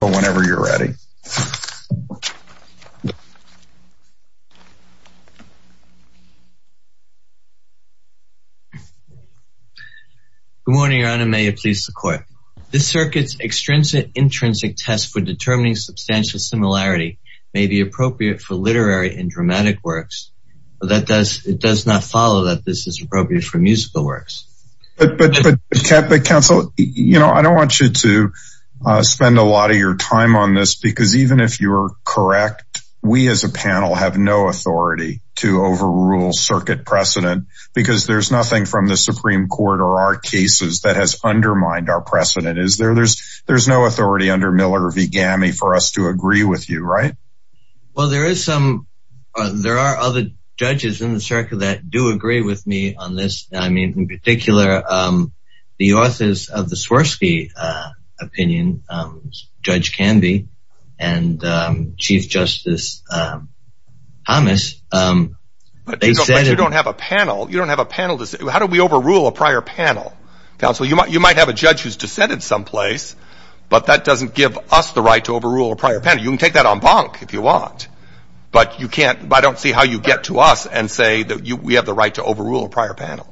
Good morning, Your Honor. May it please the Court. This circuit's extrinsic-intrinsic test for determining substantial similarity may be appropriate for literary and dramatic works, but it does not follow that this is appropriate for musical works. But counsel, you know, I don't want you to spend a lot of your time on this because even if you're correct, we as a panel have no authority to overrule circuit precedent because there's nothing from the Supreme Court or our cases that has undermined our precedent. Is there, there's, there's no authority under Miller v. Gammy for us to agree with you, right? Well, there is some, there are other judges in the circuit that do agree with me on this. I mean, in particular, the authors of the Swirsky opinion, Judge Canby and Chief Justice Thomas, they said- But you don't have a panel. You don't have a panel to say, well, how do we overrule a prior panel? Counsel, you might, you might have a judge who's dissented someplace, but that doesn't give us the right to overrule a prior panel. You can take that en banc if you want, but you can't, I don't see how you get to us and say that you, we have the right to overrule a prior panel,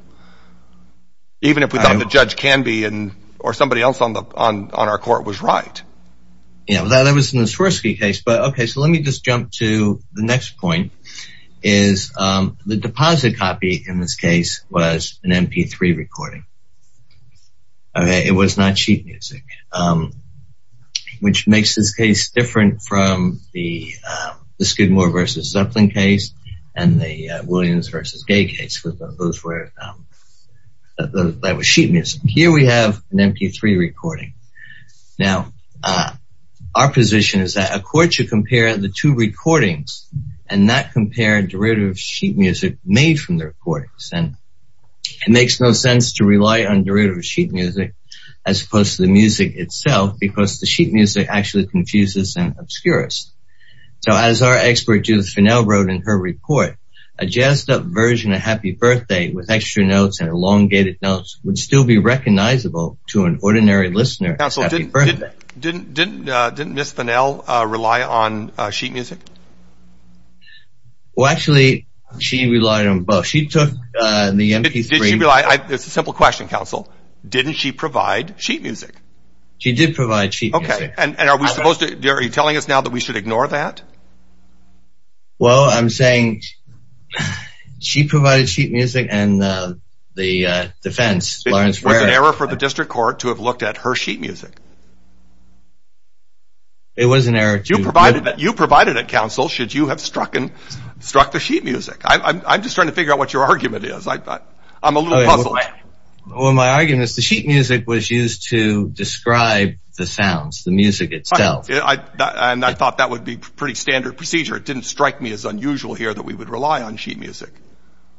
even if we thought the judge Canby and, or somebody else on the, on, on our court was right. Yeah, well, that was in the Swirsky case, but okay, so let me just jump to the next point is the deposit copy in this case was an mp3 recording. Okay, it was not sheet music, which makes this case different from the Skidmore versus Zeppelin case, and the Williams versus Gay case. Those were, that was sheet music. Here we have an mp3 recording. Now, our position is that a court should compare the two recordings, and not compare derivative sheet music made from the recordings. And it makes no sense to rely on derivative sheet music, as opposed to the music itself, because the sheet music actually confuses and obscures. So as our expert Judith Finnell wrote in her report, a jazzed-up version of Happy Birthday with extra notes and elongated notes would still be recognizable to an ordinary listener. Counselor, didn't Ms. Finnell rely on sheet music? Well, actually, she relied on both. She took the mp3. It's a simple question, counsel. Didn't she provide sheet music? She did provide sheet music. Okay, and are we supposed to, are you telling us now that we should ignore that? Well, I'm saying she provided sheet music, and the defense, Lawrence Ware... It was an error for the District Court to have looked at her sheet music. It was an error to... You provided it, you provided it, counsel, should you have struck and struck the sheet music. I'm just trying to figure out what your argument is. I'm a little puzzled. Well, my argument is the sheet music was used to describe the sounds, the music itself. And I thought that would be pretty standard procedure. It didn't strike me as unusual here that we would rely on sheet music.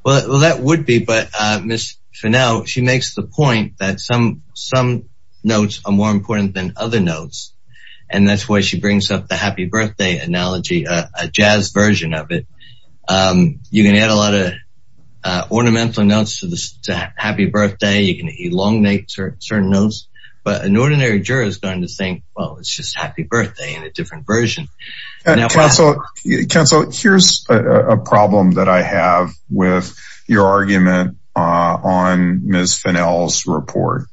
Well, that would be, but Ms. Finnell, she makes the point that some notes are more important than other notes, and that's why she brings up the Happy Birthday analogy, a jazzed-up version of it. You can add a lot of ornamental to the Happy Birthday. You can elongate certain notes, but an ordinary juror is going to think, well, it's just Happy Birthday in a different version. Counsel, here's a problem that I have with your argument on Ms. Finnell's report.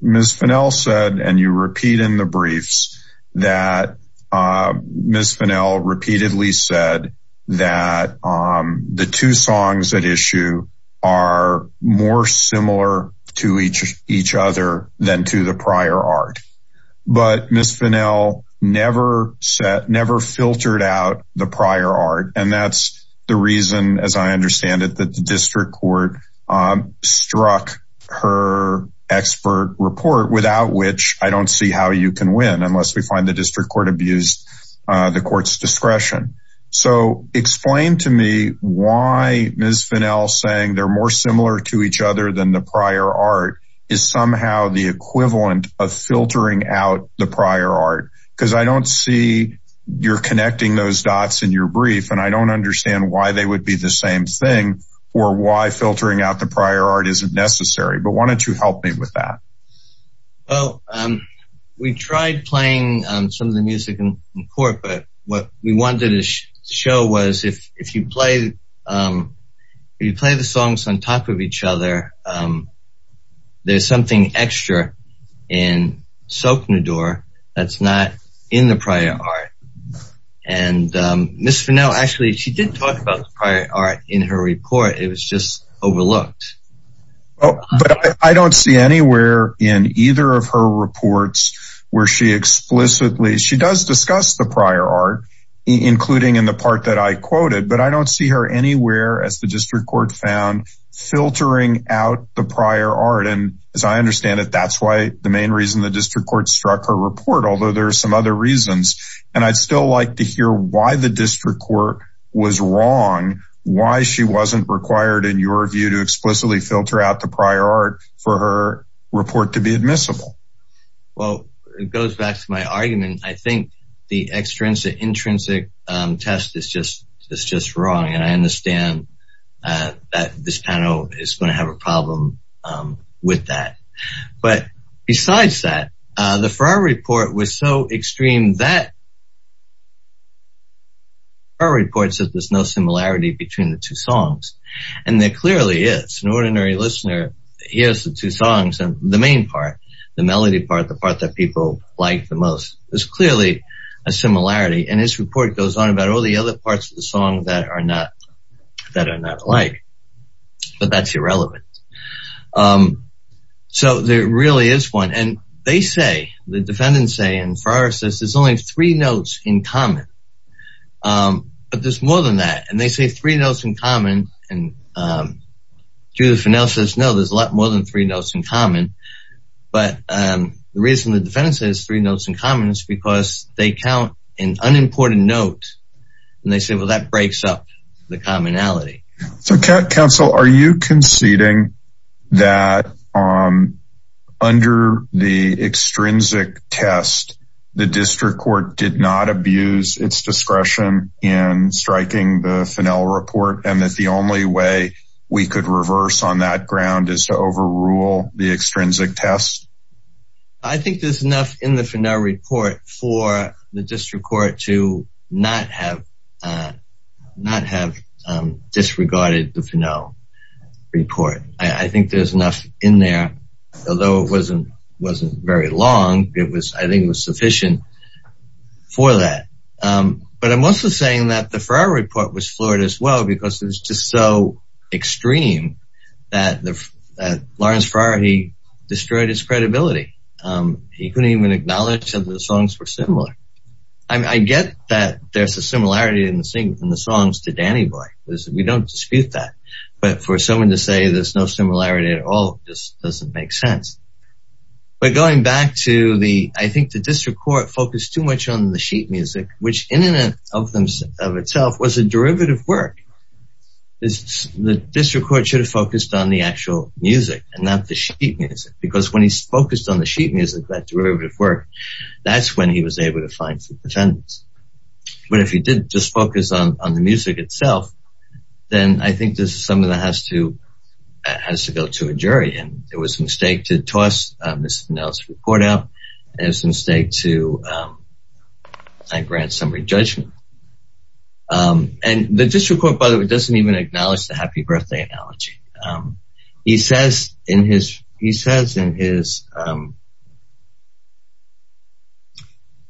Ms. Finnell said, and you repeat in the briefs, that Ms. Finnell repeatedly said that the two songs at issue are more similar to each other than to the prior art. But Ms. Finnell never filtered out the prior art, and that's the reason, as I understand it, that the district court struck her expert report, without which I don't see how you can win unless we find the district court abused the court's discretion. So explain to me why Ms. Finnell saying they're more similar to each other than the prior art is somehow the equivalent of filtering out the prior art, because I don't see you're connecting those dots in your brief, and I don't understand why they would be the same thing, or why filtering out the prior art isn't necessary. But why don't you help me with that? Well, we tried playing some of the music in court, but what we wanted to show was, if you play the songs on top of each other, there's something extra in Soque Nidor that's not in the prior art. And Ms. Finnell, actually, she didn't talk about the prior art in her report. It was just overlooked. But I don't see anywhere in either of her reports where she explicitly, she does discuss the prior art, including in the part that I quoted, but I don't see her anywhere, as the district court found, filtering out the prior art. And as I understand it, that's why the main reason the district court struck her report, although there are some other reasons. And I'd still like to hear why the district court was wrong, why she wasn't required, in your view, to explicitly filter out the prior art for her report to be admissible. Well, it goes back to my argument. I think the extrinsic-intrinsic test is just wrong. And I understand that this panel is going to have a her reports that there's no similarity between the two songs. And there clearly is. An ordinary listener hears the two songs, and the main part, the melody part, the part that people like the most, there's clearly a similarity. And this report goes on about all the other parts of the song that are not, that are not alike. But that's irrelevant. So there really is one. And they say, the defendants say, and Farrar says, there's only three notes in common. But there's more than that. And they say three notes in common. And Judith Finnell says, no, there's a lot more than three notes in common. But the reason the defendants say there's three notes in common is because they count an unimportant note. And they say, well, that breaks up the commonality. So Council, are you conceding that under the extrinsic test, the district court did not abuse its discretion in striking the Finnell report, and that the only way we could reverse on that ground is to overrule the extrinsic test? I think there's enough in the Finnell report for the district court to not have disregarded the Finnell report. I think there's enough in there. Although it wasn't very long, I think it was sufficient for that. But I'm also saying that the Farrar report was flawed as well, because it was just so extreme that Lawrence Farrar, he was similar. I get that there's a similarity in the songs to Danny Boy. We don't dispute that. But for someone to say there's no similarity at all just doesn't make sense. But going back to the, I think the district court focused too much on the sheet music, which in and of itself was a derivative work. The district court should have focused on the actual music and not the sheet music. Because when he's focused on the sheet music, that derivative work, that's when he was able to find some defendants. But if he didn't just focus on the music itself, then I think this is something that has to go to a jury. And it was a mistake to toss Mr. Finnell's report out. It was a mistake to grant summary judgment. And the district court, by the way, doesn't even acknowledge the happy birthday analogy. He says in his, he says in his,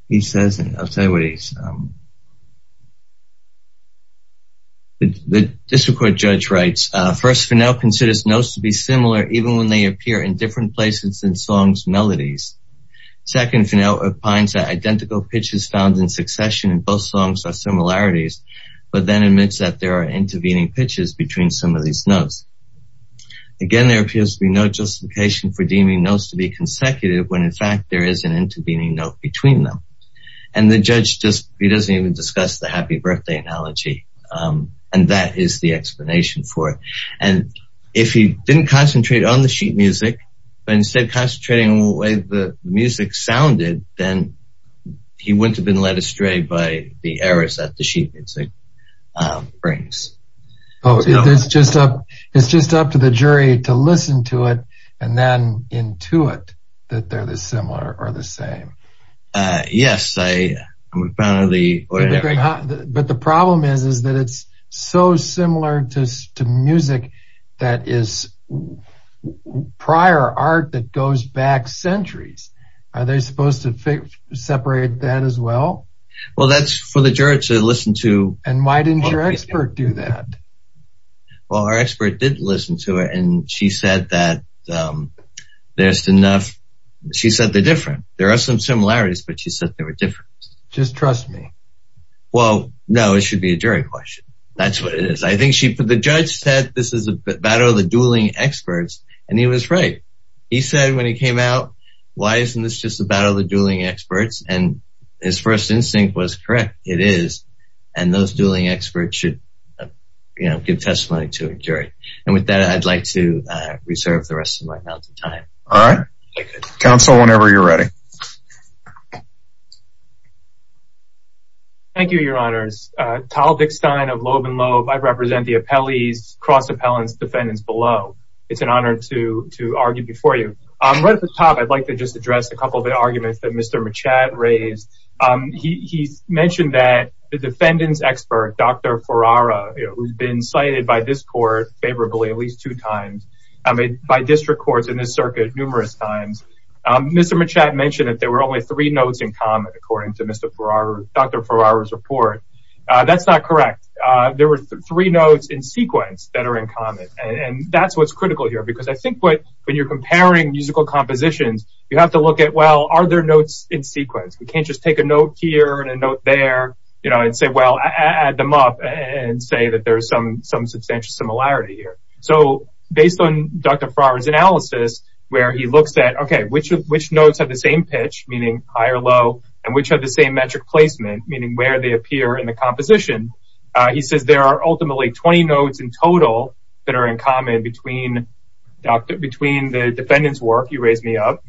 he says in, I'll tell you what he's, the district court judge writes, first, Finnell considers notes to be similar even when they appear in different places in songs' melodies. Second, Finnell opines that identical pitches found in succession in both songs are similarities, but then admits that there are intervening pitches between some of these notes. Again, there appears to be no justification for deeming notes to be consecutive when in fact there is an intervening note between them. And the judge just, he doesn't even discuss the happy birthday analogy. And that is the explanation for it. And if he didn't concentrate on the sheet music, but instead concentrating on the way the music sounded, then he wouldn't have been led astray by the errors that the sheet music brings. Oh, it's just up, it's just up to the jury to listen to it and then intuit that they're the similar or the same. Uh, yes, I, we found the, but the problem is, is that it's so similar to, to music that is prior art that goes back centuries. Are they supposed to separate that as well? Well, that's for the juror to listen to. And why didn't your expert do that? Well, our expert didn't listen to it. And she said that, um, there's enough, she said the different, there are some similarities, but she said they were different. Just trust me. Well, no, it should be a jury question. That's what it is. I think she put, the judge said, this is a battle of the dueling experts. And he was right. He said, when he came out, why isn't this just a battle of the dueling experts? And his first instinct was correct. It is. And those dueling experts should, you know, give testimony to a jury. And with that, I'd like to, uh, reserve the rest of my time. All right. Counsel, whenever you're ready. Thank you, your honors. Uh, Tal Dickstein of Loeb and Loeb. I represent the appellees, cross appellants defendants below. It's an honor to, to argue before you. Um, right at the top, I'd like to just address a couple of the arguments that Mr. Machat raised. Um, he, he mentioned that the defendants expert, Dr. Ferrara, you know, who's been cited by this court favorably at least two times, um, by district courts in this circuit, numerous times. Um, Mr. Machat mentioned that there were only three notes in common, according to Mr. Ferrara, Dr. Ferrara's report. Uh, that's not correct. Uh, there were three notes in sequence that are in common. And that's, what's critical here, because I think what, when you're comparing musical compositions, you have to look at, well, are there notes in sequence? We can't just take a note here and a note there, you know, and say, well, add them up and say that there's some, some substantial similarity here. So based on Dr. Ferrara's analysis, where he looks at, okay, which, which notes have the same pitch, meaning higher, low, and which have the same metric placement, meaning where they appear in composition. Uh, he says there are ultimately 20 notes in total that are in common between between the defendant's work, you raised me up,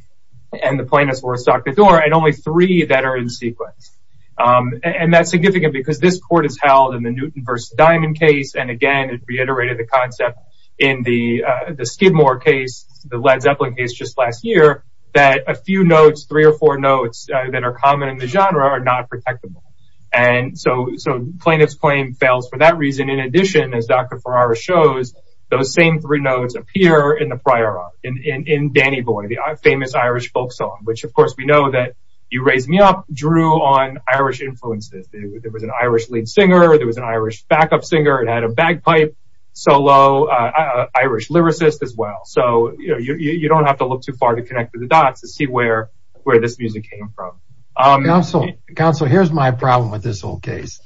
and the plaintiff's work, Dr. Thorne, and only three that are in sequence. Um, and that's significant because this court has held in the Newton versus Diamond case. And again, it reiterated the concept in the, uh, the Skidmore case, the Led Zeppelin case just last year, that a few notes, three or four notes that are common in the genre are not protectable. And so, so plaintiff's claim fails for that reason. In addition, as Dr. Ferrara shows, those same three notes appear in the prior art, in, in, in Danny Boy, the famous Irish folk song, which of course, we know that you raised me up drew on Irish influences. There was an Irish lead singer, there was an Irish backup singer, and had a bagpipe solo, uh, Irish lyricist as well. So, you know, you, you don't have to look too far to connect the dots to see where, where this music came from. Counsel, counsel, here's my problem with this whole case.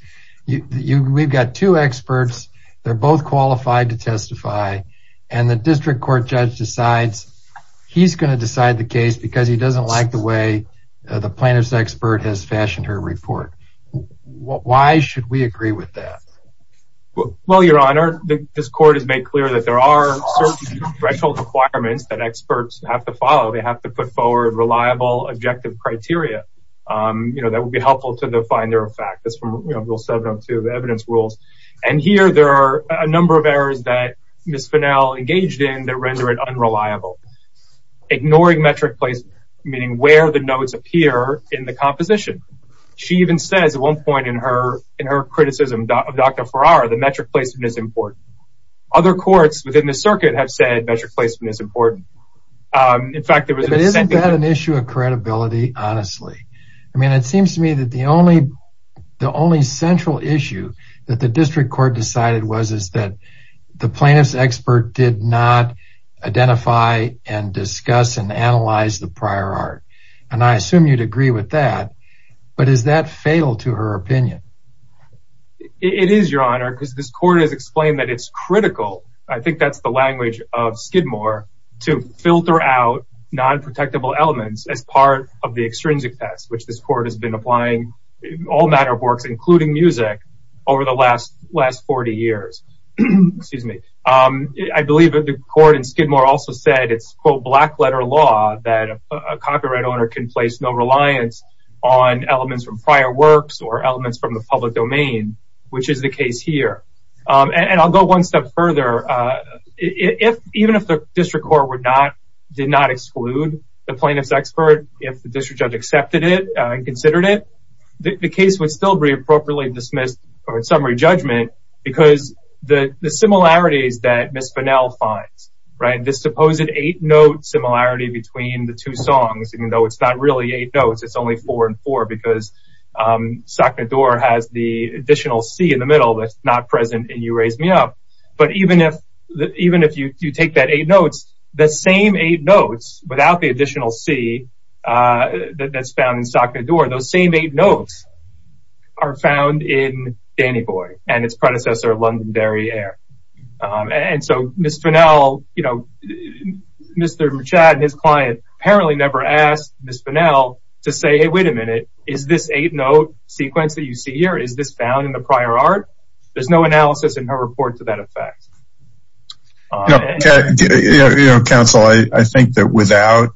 You, you, we've got two experts, they're both qualified to testify, and the district court judge decides he's going to decide the case because he doesn't like the way the plaintiff's expert has fashioned her report. Why should we agree with that? Well, your honor, this court has made clear that there are certain threshold requirements that experts have to follow. They have to put forward reliable objective criteria, um, you know, that would be helpful to define their effect. That's from rule 702, the evidence rules, and here there are a number of errors that Ms. Fennell engaged in that render it unreliable. Ignoring metric placement, meaning where the notes appear in the composition. She even says at one point in her, in her criticism of Dr. Ferrara, the metric placement is important. Other courts within the circuit have said metric placement is important. Um, in fact, there was an issue of credibility, honestly. I mean, it seems to me that the only, the only central issue that the district court decided was, is that the plaintiff's expert did not identify and discuss and analyze the prior art. And I assume you'd agree with that, but is that fatal to her opinion? It is, your honor, because this court has explained that it's critical, I think that's the language of Skidmore, to filter out non-protectable elements as part of the extrinsic test, which this court has been applying in all manner of works, including music, over the last, last 40 years. Excuse me. Um, I believe that the court in Skidmore also said it's, quote, black letter law that a copyright owner can place no reliance on elements from the copyright law. Um, I think one step further, uh, if, even if the district court would not, did not exclude the plaintiff's expert, if the district judge accepted it and considered it, the case would still be appropriately dismissed for its summary judgment, because the, the similarities that Ms. Finnell finds, right, this supposed eight note similarity between the two songs, even though it's not really eight notes, it's only four and four, because, um, Sacrador has the additional C in the middle that's not present in You Raise Me Up. But even if, even if you take that eight notes, the same eight notes without the additional C, uh, that's found in Sacrador, those same eight notes are found in Danny Boy and its predecessor, London Derriere. Um, and so Ms. Finnell, you know, Mr. Machat and his client apparently never asked Ms. Finnell to say, hey, wait a minute, is this eight note sequence that you see here, is this found in the prior art? There's no analysis in her report to that effect. Counsel, I think that without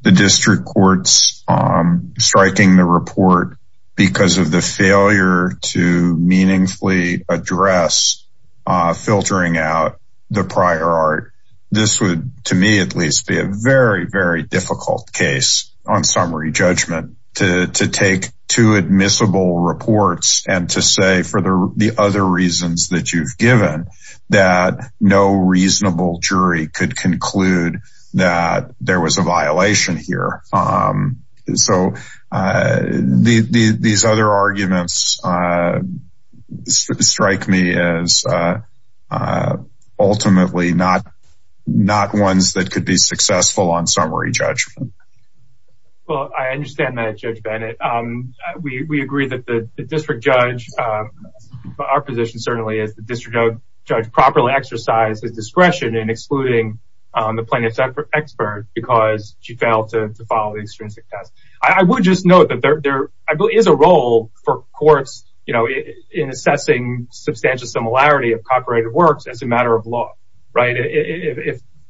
the district courts, um, striking the report because of the failure to meaningfully address, uh, filtering out the prior art, this would, to me, at least be a very, difficult case on summary judgment to, to take two admissible reports and to say for the other reasons that you've given that no reasonable jury could conclude that there was a violation here. Um, so, uh, the, the, these other arguments, uh, strike me as, uh, uh, ultimately not, not ones that could be successful on summary judgment. Well, I understand that Judge Bennett. Um, we, we agree that the district judge, um, our position certainly is the district judge properly exercised his discretion in excluding, um, the plaintiff's expert because she failed to follow the extrinsic test. I would just note that there, there is a role for courts, you know, in assessing substantial similarity of copyrighted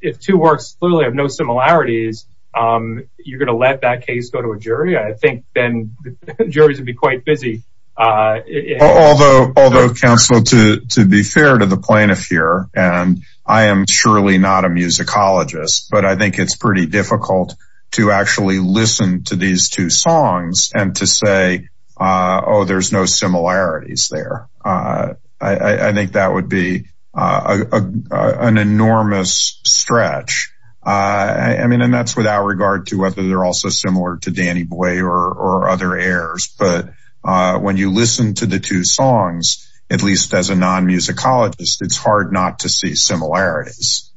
if two works clearly have no similarities, um, you're going to let that case go to a jury. I think then juries would be quite busy. Uh, although, although counsel to, to be fair to the plaintiff here, and I am surely not a musicologist, but I think it's pretty difficult to actually listen to these two songs and to say, uh, oh, there's no similarities there. Uh, I think that would be, uh, uh, uh, an enormous stretch. Uh, I mean, and that's without regard to whether they're also similar to Danny Boy or, or other heirs. But, uh, when you listen to the two songs, at least as a non-musicologist, it's hard not to see similarities.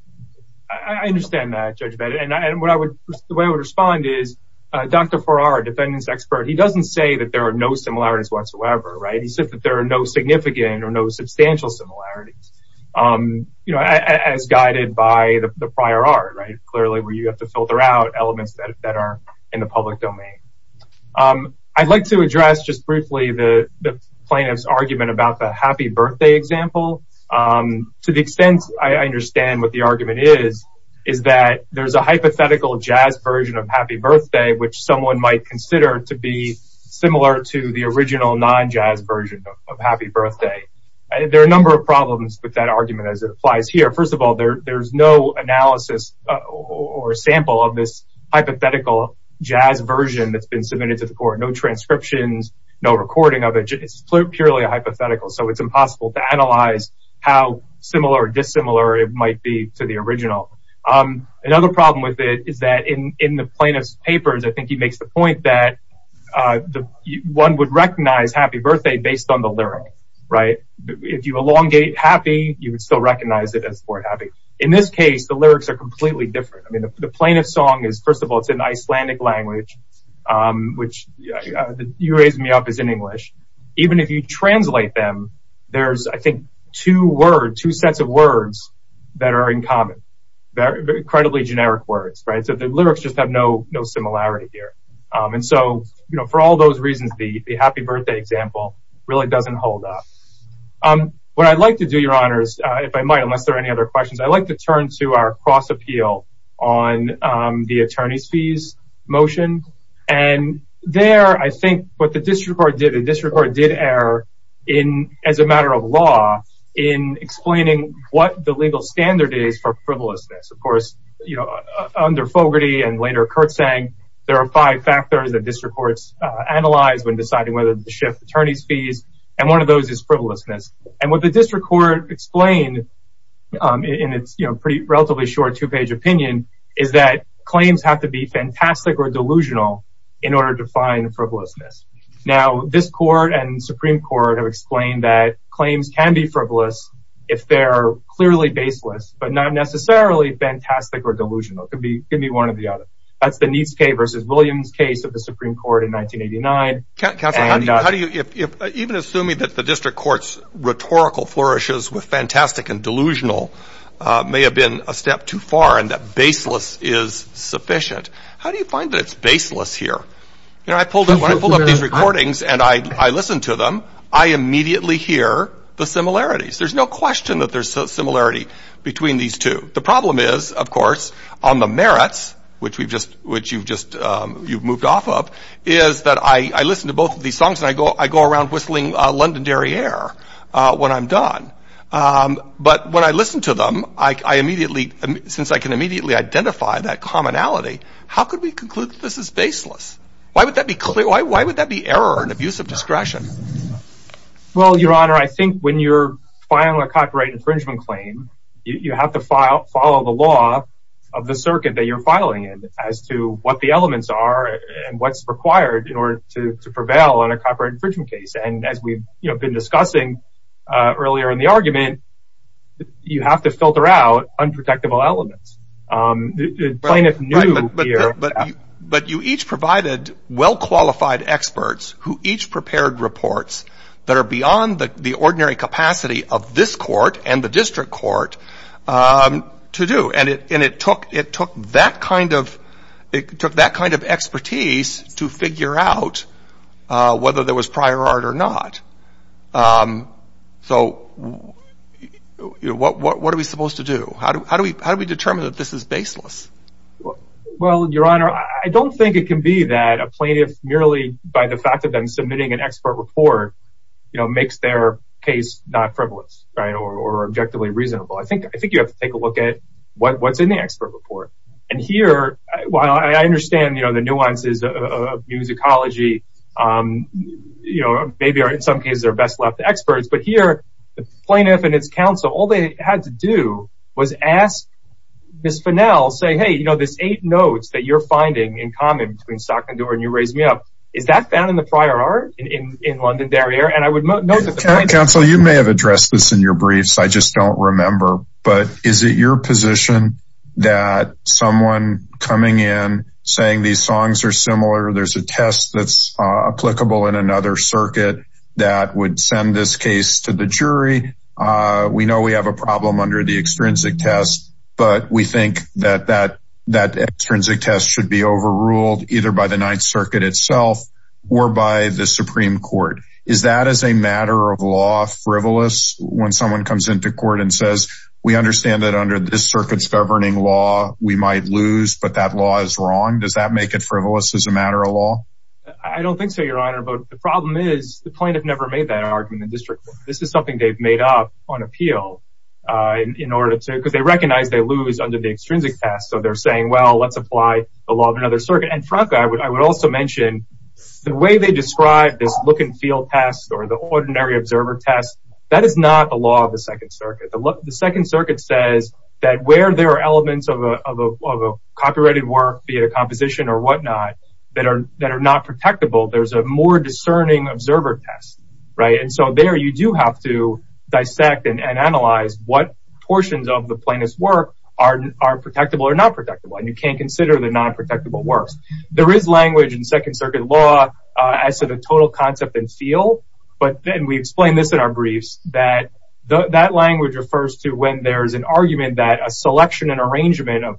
I understand that Judge Bennett. And I, and what I would, the way I would respond is, uh, Dr. Farrar, defendant's expert. He doesn't say that there are no similarities whatsoever, right? He said that there are no significant or no substantial similarities, um, you know, as guided by the prior art, right. Clearly where you have to filter out elements that are in the public domain. Um, I'd like to address just briefly the plaintiff's argument about the happy birthday example. Um, to the extent I understand what the argument is, is that there's a hypothetical jazz version of happy birthday, which someone might consider to be similar to the original non-jazz version of happy birthday. There are a number of problems with that argument as it applies here. First of all, there, there's no analysis or sample of this hypothetical jazz version that's been submitted to the court, no transcriptions, no recording of it. It's purely a hypothetical. So it's impossible to analyze how similar or dissimilar it might be to the original. Um, another problem with it is that in, in the plaintiff's papers, I think he makes the point that, uh, the one would recognize happy birthday based on the lyric, right? If you elongate happy, you would still recognize it as the word happy. In this case, the lyrics are completely different. I mean, the plaintiff's song is, first of all, it's in Icelandic language, um, which you raised me up is in English. Even if you translate them, there's, I think, two words, two sets of words that are in common. They're incredibly generic words, right? So the lyrics just have no, no similarity here. And so, you know, for all those reasons, the happy birthday example really doesn't hold up. Um, what I'd like to do your honors, uh, if I might, unless there are any other questions, I'd like to turn to our cross appeal on, um, the attorney's fees motion. And there, I think what the district court did, the district court did err in, as a matter of law, in explaining what the legal standard is for frivolousness. Of course, you know, under Fogarty and later Kurtz saying there are five factors that district courts, uh, analyze when deciding whether to shift attorney's fees. And one of those is frivolousness. And what the district court explained, um, in its, you know, pretty relatively short two page opinion is that claims have to be fantastic or delusional in order to find frivolousness. Now this court and Supreme court have explained that claims can be frivolous if they're clearly baseless, but not necessarily fantastic or delusional. It could be, it could be one or the other. That's the needs K versus Williams case of the Supreme court in 1989. How do you, even assuming that the district court's rhetorical flourishes with fantastic and delusional, uh, may have been a step too far and that baseless is sufficient. How do you find that it's baseless here? You know, I pulled up, I pulled up these recordings and I, I listened to them. I immediately hear the of course on the merits, which we've just, which you've just, um, you've moved off of is that I, I listened to both of these songs and I go, I go around whistling, uh, Londonderry air, uh, when I'm done. Um, but when I listened to them, I, I immediately, since I can immediately identify that commonality, how could we conclude that this is baseless? Why would that be clear? Why, why would that be error and abuse of discretion? Well, your honor, I think when you're filing a copyright infringement claim, you have to file, follow the law of the circuit that you're filing in as to what the elements are and what's required in order to prevail on a copyright infringement case. And as we've been discussing, uh, earlier in the argument, you have to filter out unprotectable elements. Um, the plaintiff knew, but you each provided well-qualified experts who each prepared reports that are beyond the ordinary capacity of this court and the district court, um, to do. And it, and it took, it took that kind of, it took that kind of expertise to figure out, uh, whether there was prior art or not. Um, so what, what, what are we supposed to do? How do we, how do we determine that this is baseless? Well, well, your honor, I don't think it can be that a plaintiff merely by the fact of them submitting an expert report, you know, makes their case not frivolous, right. Or objectively reasonable. I think, I think you have to take a look at what's in the expert report. And here, while I understand, you know, the nuances of musicology, um, you know, maybe in some cases they're best left to experts, but here the plaintiff and its counsel, all they had to do was ask Ms. Finnell, say, hey, you know, this eight notes that you're finding in common between Stock and Doerr and you raised me up, is that found in the prior art in, in London Derriere? And I would note that the plaintiff... Counsel, you may have addressed this in your briefs, I just don't remember, but is it your position that someone coming in saying these songs are similar, there's a test that's applicable in another circuit that would send this case to the jury? Uh, we know we have a problem under the extrinsic test, but we think that that, that extrinsic test should be overruled either by the Ninth Circuit itself or by the Supreme Court. Is that as a matter of law frivolous when someone comes into court and says, we understand that under this circuit's governing law, we might lose, but that law is wrong. Does that make it frivolous as a matter of law? I don't think so, your honor, but the problem is the plaintiff never made that district. This is something they've made up on appeal, uh, in order to, because they recognize they lose under the extrinsic test. So they're saying, well, let's apply the law of another circuit. And frankly, I would, I would also mention the way they describe this look and feel test or the ordinary observer test. That is not the law of the second circuit. The second circuit says that where there are elements of a, of a, of a copyrighted work, be it a composition or whatnot that are, that are not protectable, there's a more discerning observer test, right? And so there you do have to dissect and analyze what portions of the plaintiff's work are, are protectable or not protectable. And you can't consider the non-protectable works. There is language in second circuit law, uh, as to the total concept and feel, but then we explain this in our briefs that the, that language refers to when there's an argument that a selection and arrangement of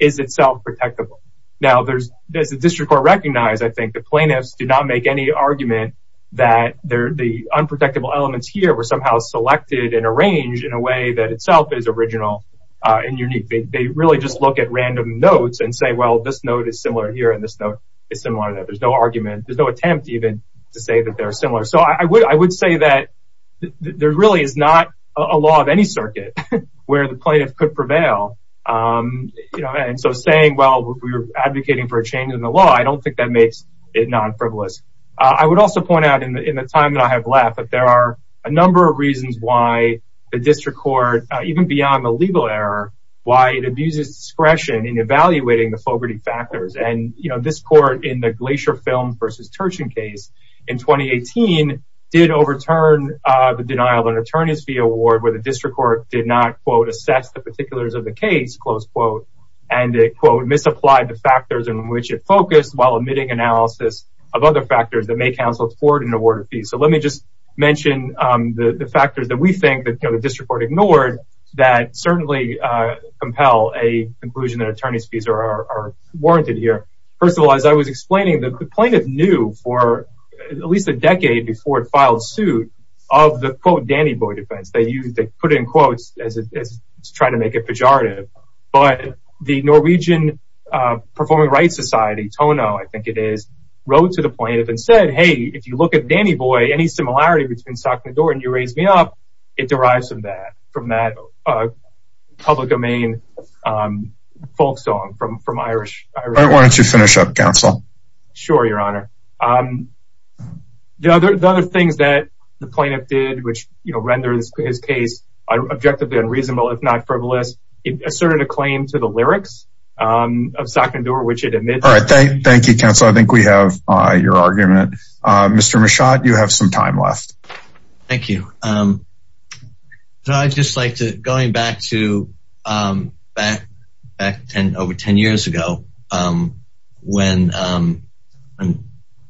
itself protectable. Now there's, there's a district court recognized. I think the plaintiffs do not make any argument that they're the unprotectable elements here were somehow selected and arranged in a way that itself is original, uh, and unique. They really just look at random notes and say, well, this note is similar here. And this note is similar to that. There's no argument. There's no attempt even to say that they're similar. So I would, I would say that there really is not a law of any circuit where the plaintiff could prevail. Um, you know, and so saying, well, we were advocating for a change in the law. I don't think that makes it non-frivolous. Uh, I would also point out in the, in the time that I have left, that there are a number of reasons why the district court, uh, even beyond the legal error, why it abuses discretion in evaluating the Fogarty factors. And, you know, this court in the Glacier film versus Turchin case in 2018 did overturn, uh, the denial of an attorney's fee award where district court did not quote assess the particulars of the case, close quote, and they quote misapplied the factors in which it focused while emitting analysis of other factors that may counsel forward an award of fees. So let me just mention, um, the, the factors that we think that, you know, the district court ignored that certainly, uh, compel a conclusion that attorney's fees are warranted here. First of all, as I was explaining, the plaintiff knew for at least a put it in quotes as, as trying to make it pejorative, but the Norwegian, uh, performing rights society, Tono, I think it is wrote to the plaintiff and said, Hey, if you look at Danny boy, any similarity between sock in the door and you raised me up, it derives from that, from that, uh, public domain, um, folk song from, from Irish. Why don't you finish up council? Sure. Your honor. Um, the other, the other things that the plaintiff did, which, you know, his case objectively unreasonable, if not frivolous, it asserted a claim to the lyrics, um, of sock and door, which it admits. All right. Thank you. Council. I think we have, uh, your argument, uh, Mr. Michotte, you have some time left. Thank you. Um, so I just like to going back to, um, back, back 10, over 10 years ago, um, when, um,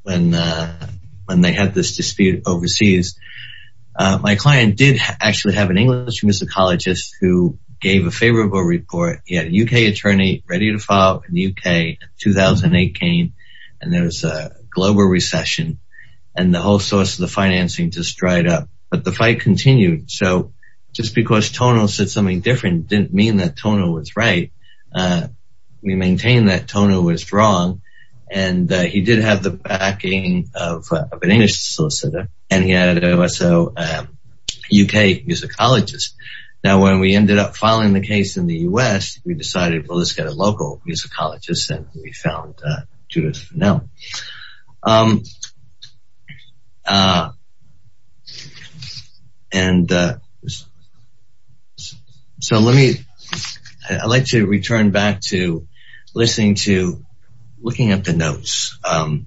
when, uh, when they had this dispute overseas, uh, my client did actually have an English musicologist who gave a favorable report. He had a UK attorney ready to file in the UK, 2008 came and there was a global recession and the whole source of the financing just dried up, but the fight continued. So just because Tono said something different didn't mean that Tono was right. Uh, we maintain that Tono was wrong and, uh, he did have the backing of an English solicitor and he had also, um, UK musicologist. Now, when we ended up filing the case in the U S we decided, well, let's get a local musicologist. And we found, uh, Judith now, um, uh, and, uh, so let me, I like to return back to listening to looking at the notes, um,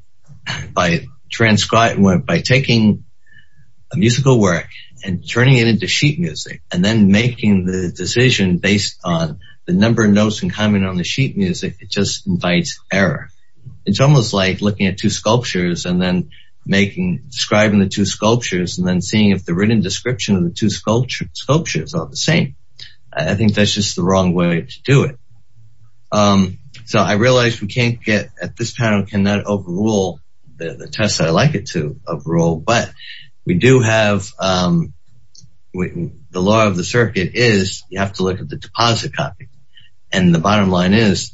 by transcribing, by taking a musical work and turning it into sheet music and then making the decision based on the number of notes in common on the sheet music, it just invites error. It's almost like looking at two sculptures and then making, describing the two sculptures and then seeing the written description of the two sculptures are the same. I think that's just the wrong way to do it. Um, so I realized we can't get at this panel, cannot overrule the tests that I like it to overrule, but we do have, um, the law of the circuit is you have to look at the deposit copy and the bottom line is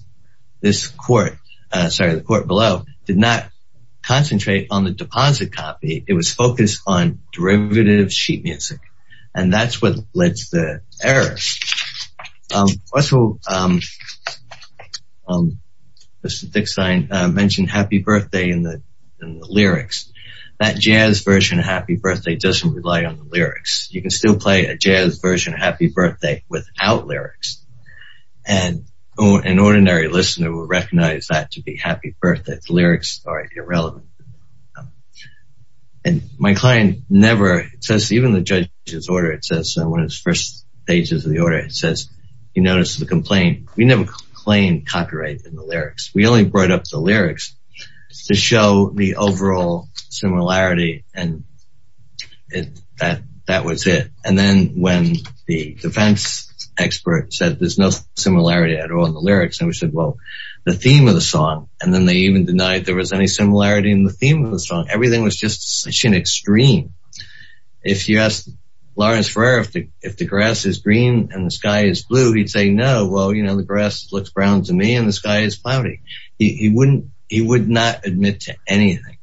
this court, uh, sorry, the court below did not concentrate on the sheet music. And that's what led to the error. Um, also, um, um, Mr. Dickstein mentioned happy birthday in the, in the lyrics, that jazz version of happy birthday doesn't rely on the lyrics. You can still play a jazz version of happy birthday without lyrics. And an ordinary listener will recognize that to be happy birthday lyrics are irrelevant. And my client never even the judge's order, it says when it's first pages of the order, it says, you notice the complaint. We never claimed copyright in the lyrics. We only brought up the lyrics to show the overall similarity. And that, that was it. And then when the defense expert said, there's no similarity at all in the lyrics. And we said, well, the theme of the song, and then they even denied there was any similarity in the theme of the song. Everything was just such an extreme. If you ask Lawrence Ferrer, if the, if the grass is green and the sky is blue, he'd say, no, well, you know, the grass looks Brown to me and the sky is cloudy. He wouldn't, he would not admit to anything.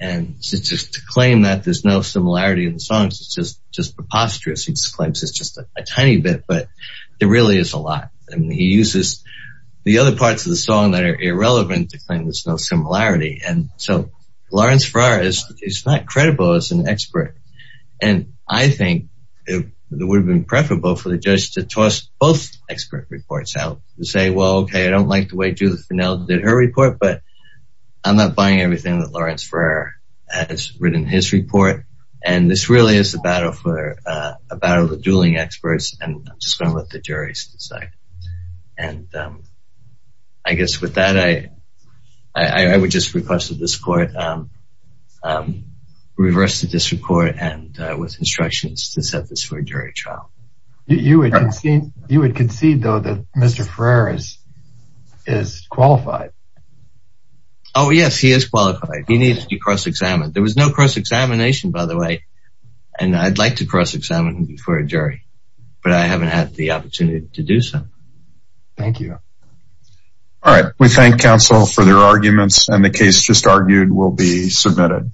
And since it's just to claim that there's no similarity in the songs, it's just, just preposterous. He claims it's just a tiny bit, but there really is a lot. And he uses the other parts of the song that are irrelevant to claim there's no similarity. And so Lawrence Ferrer is not credible as an expert. And I think it would have been preferable for the judge to toss both expert reports out and say, well, okay, I don't like the way Judith Finnell did her report, but I'm not buying everything that Lawrence Ferrer has written his report. And this really is a battle for a battle of the dueling experts. And I'm just going to let the juries decide. And I guess with that, I, I would just request that this court reverse the district court and with instructions to set this for a jury trial. You would concede though, that Mr. Ferrer is, is qualified. Oh yes, he is qualified. He needs to be cross-examined. There was no cross-examination, by the way. And I'd like to cross-examine him before a jury, but I haven't had the opportunity to do so. Thank you. All right. We thank counsel for their arguments and the case just argued will be submitted.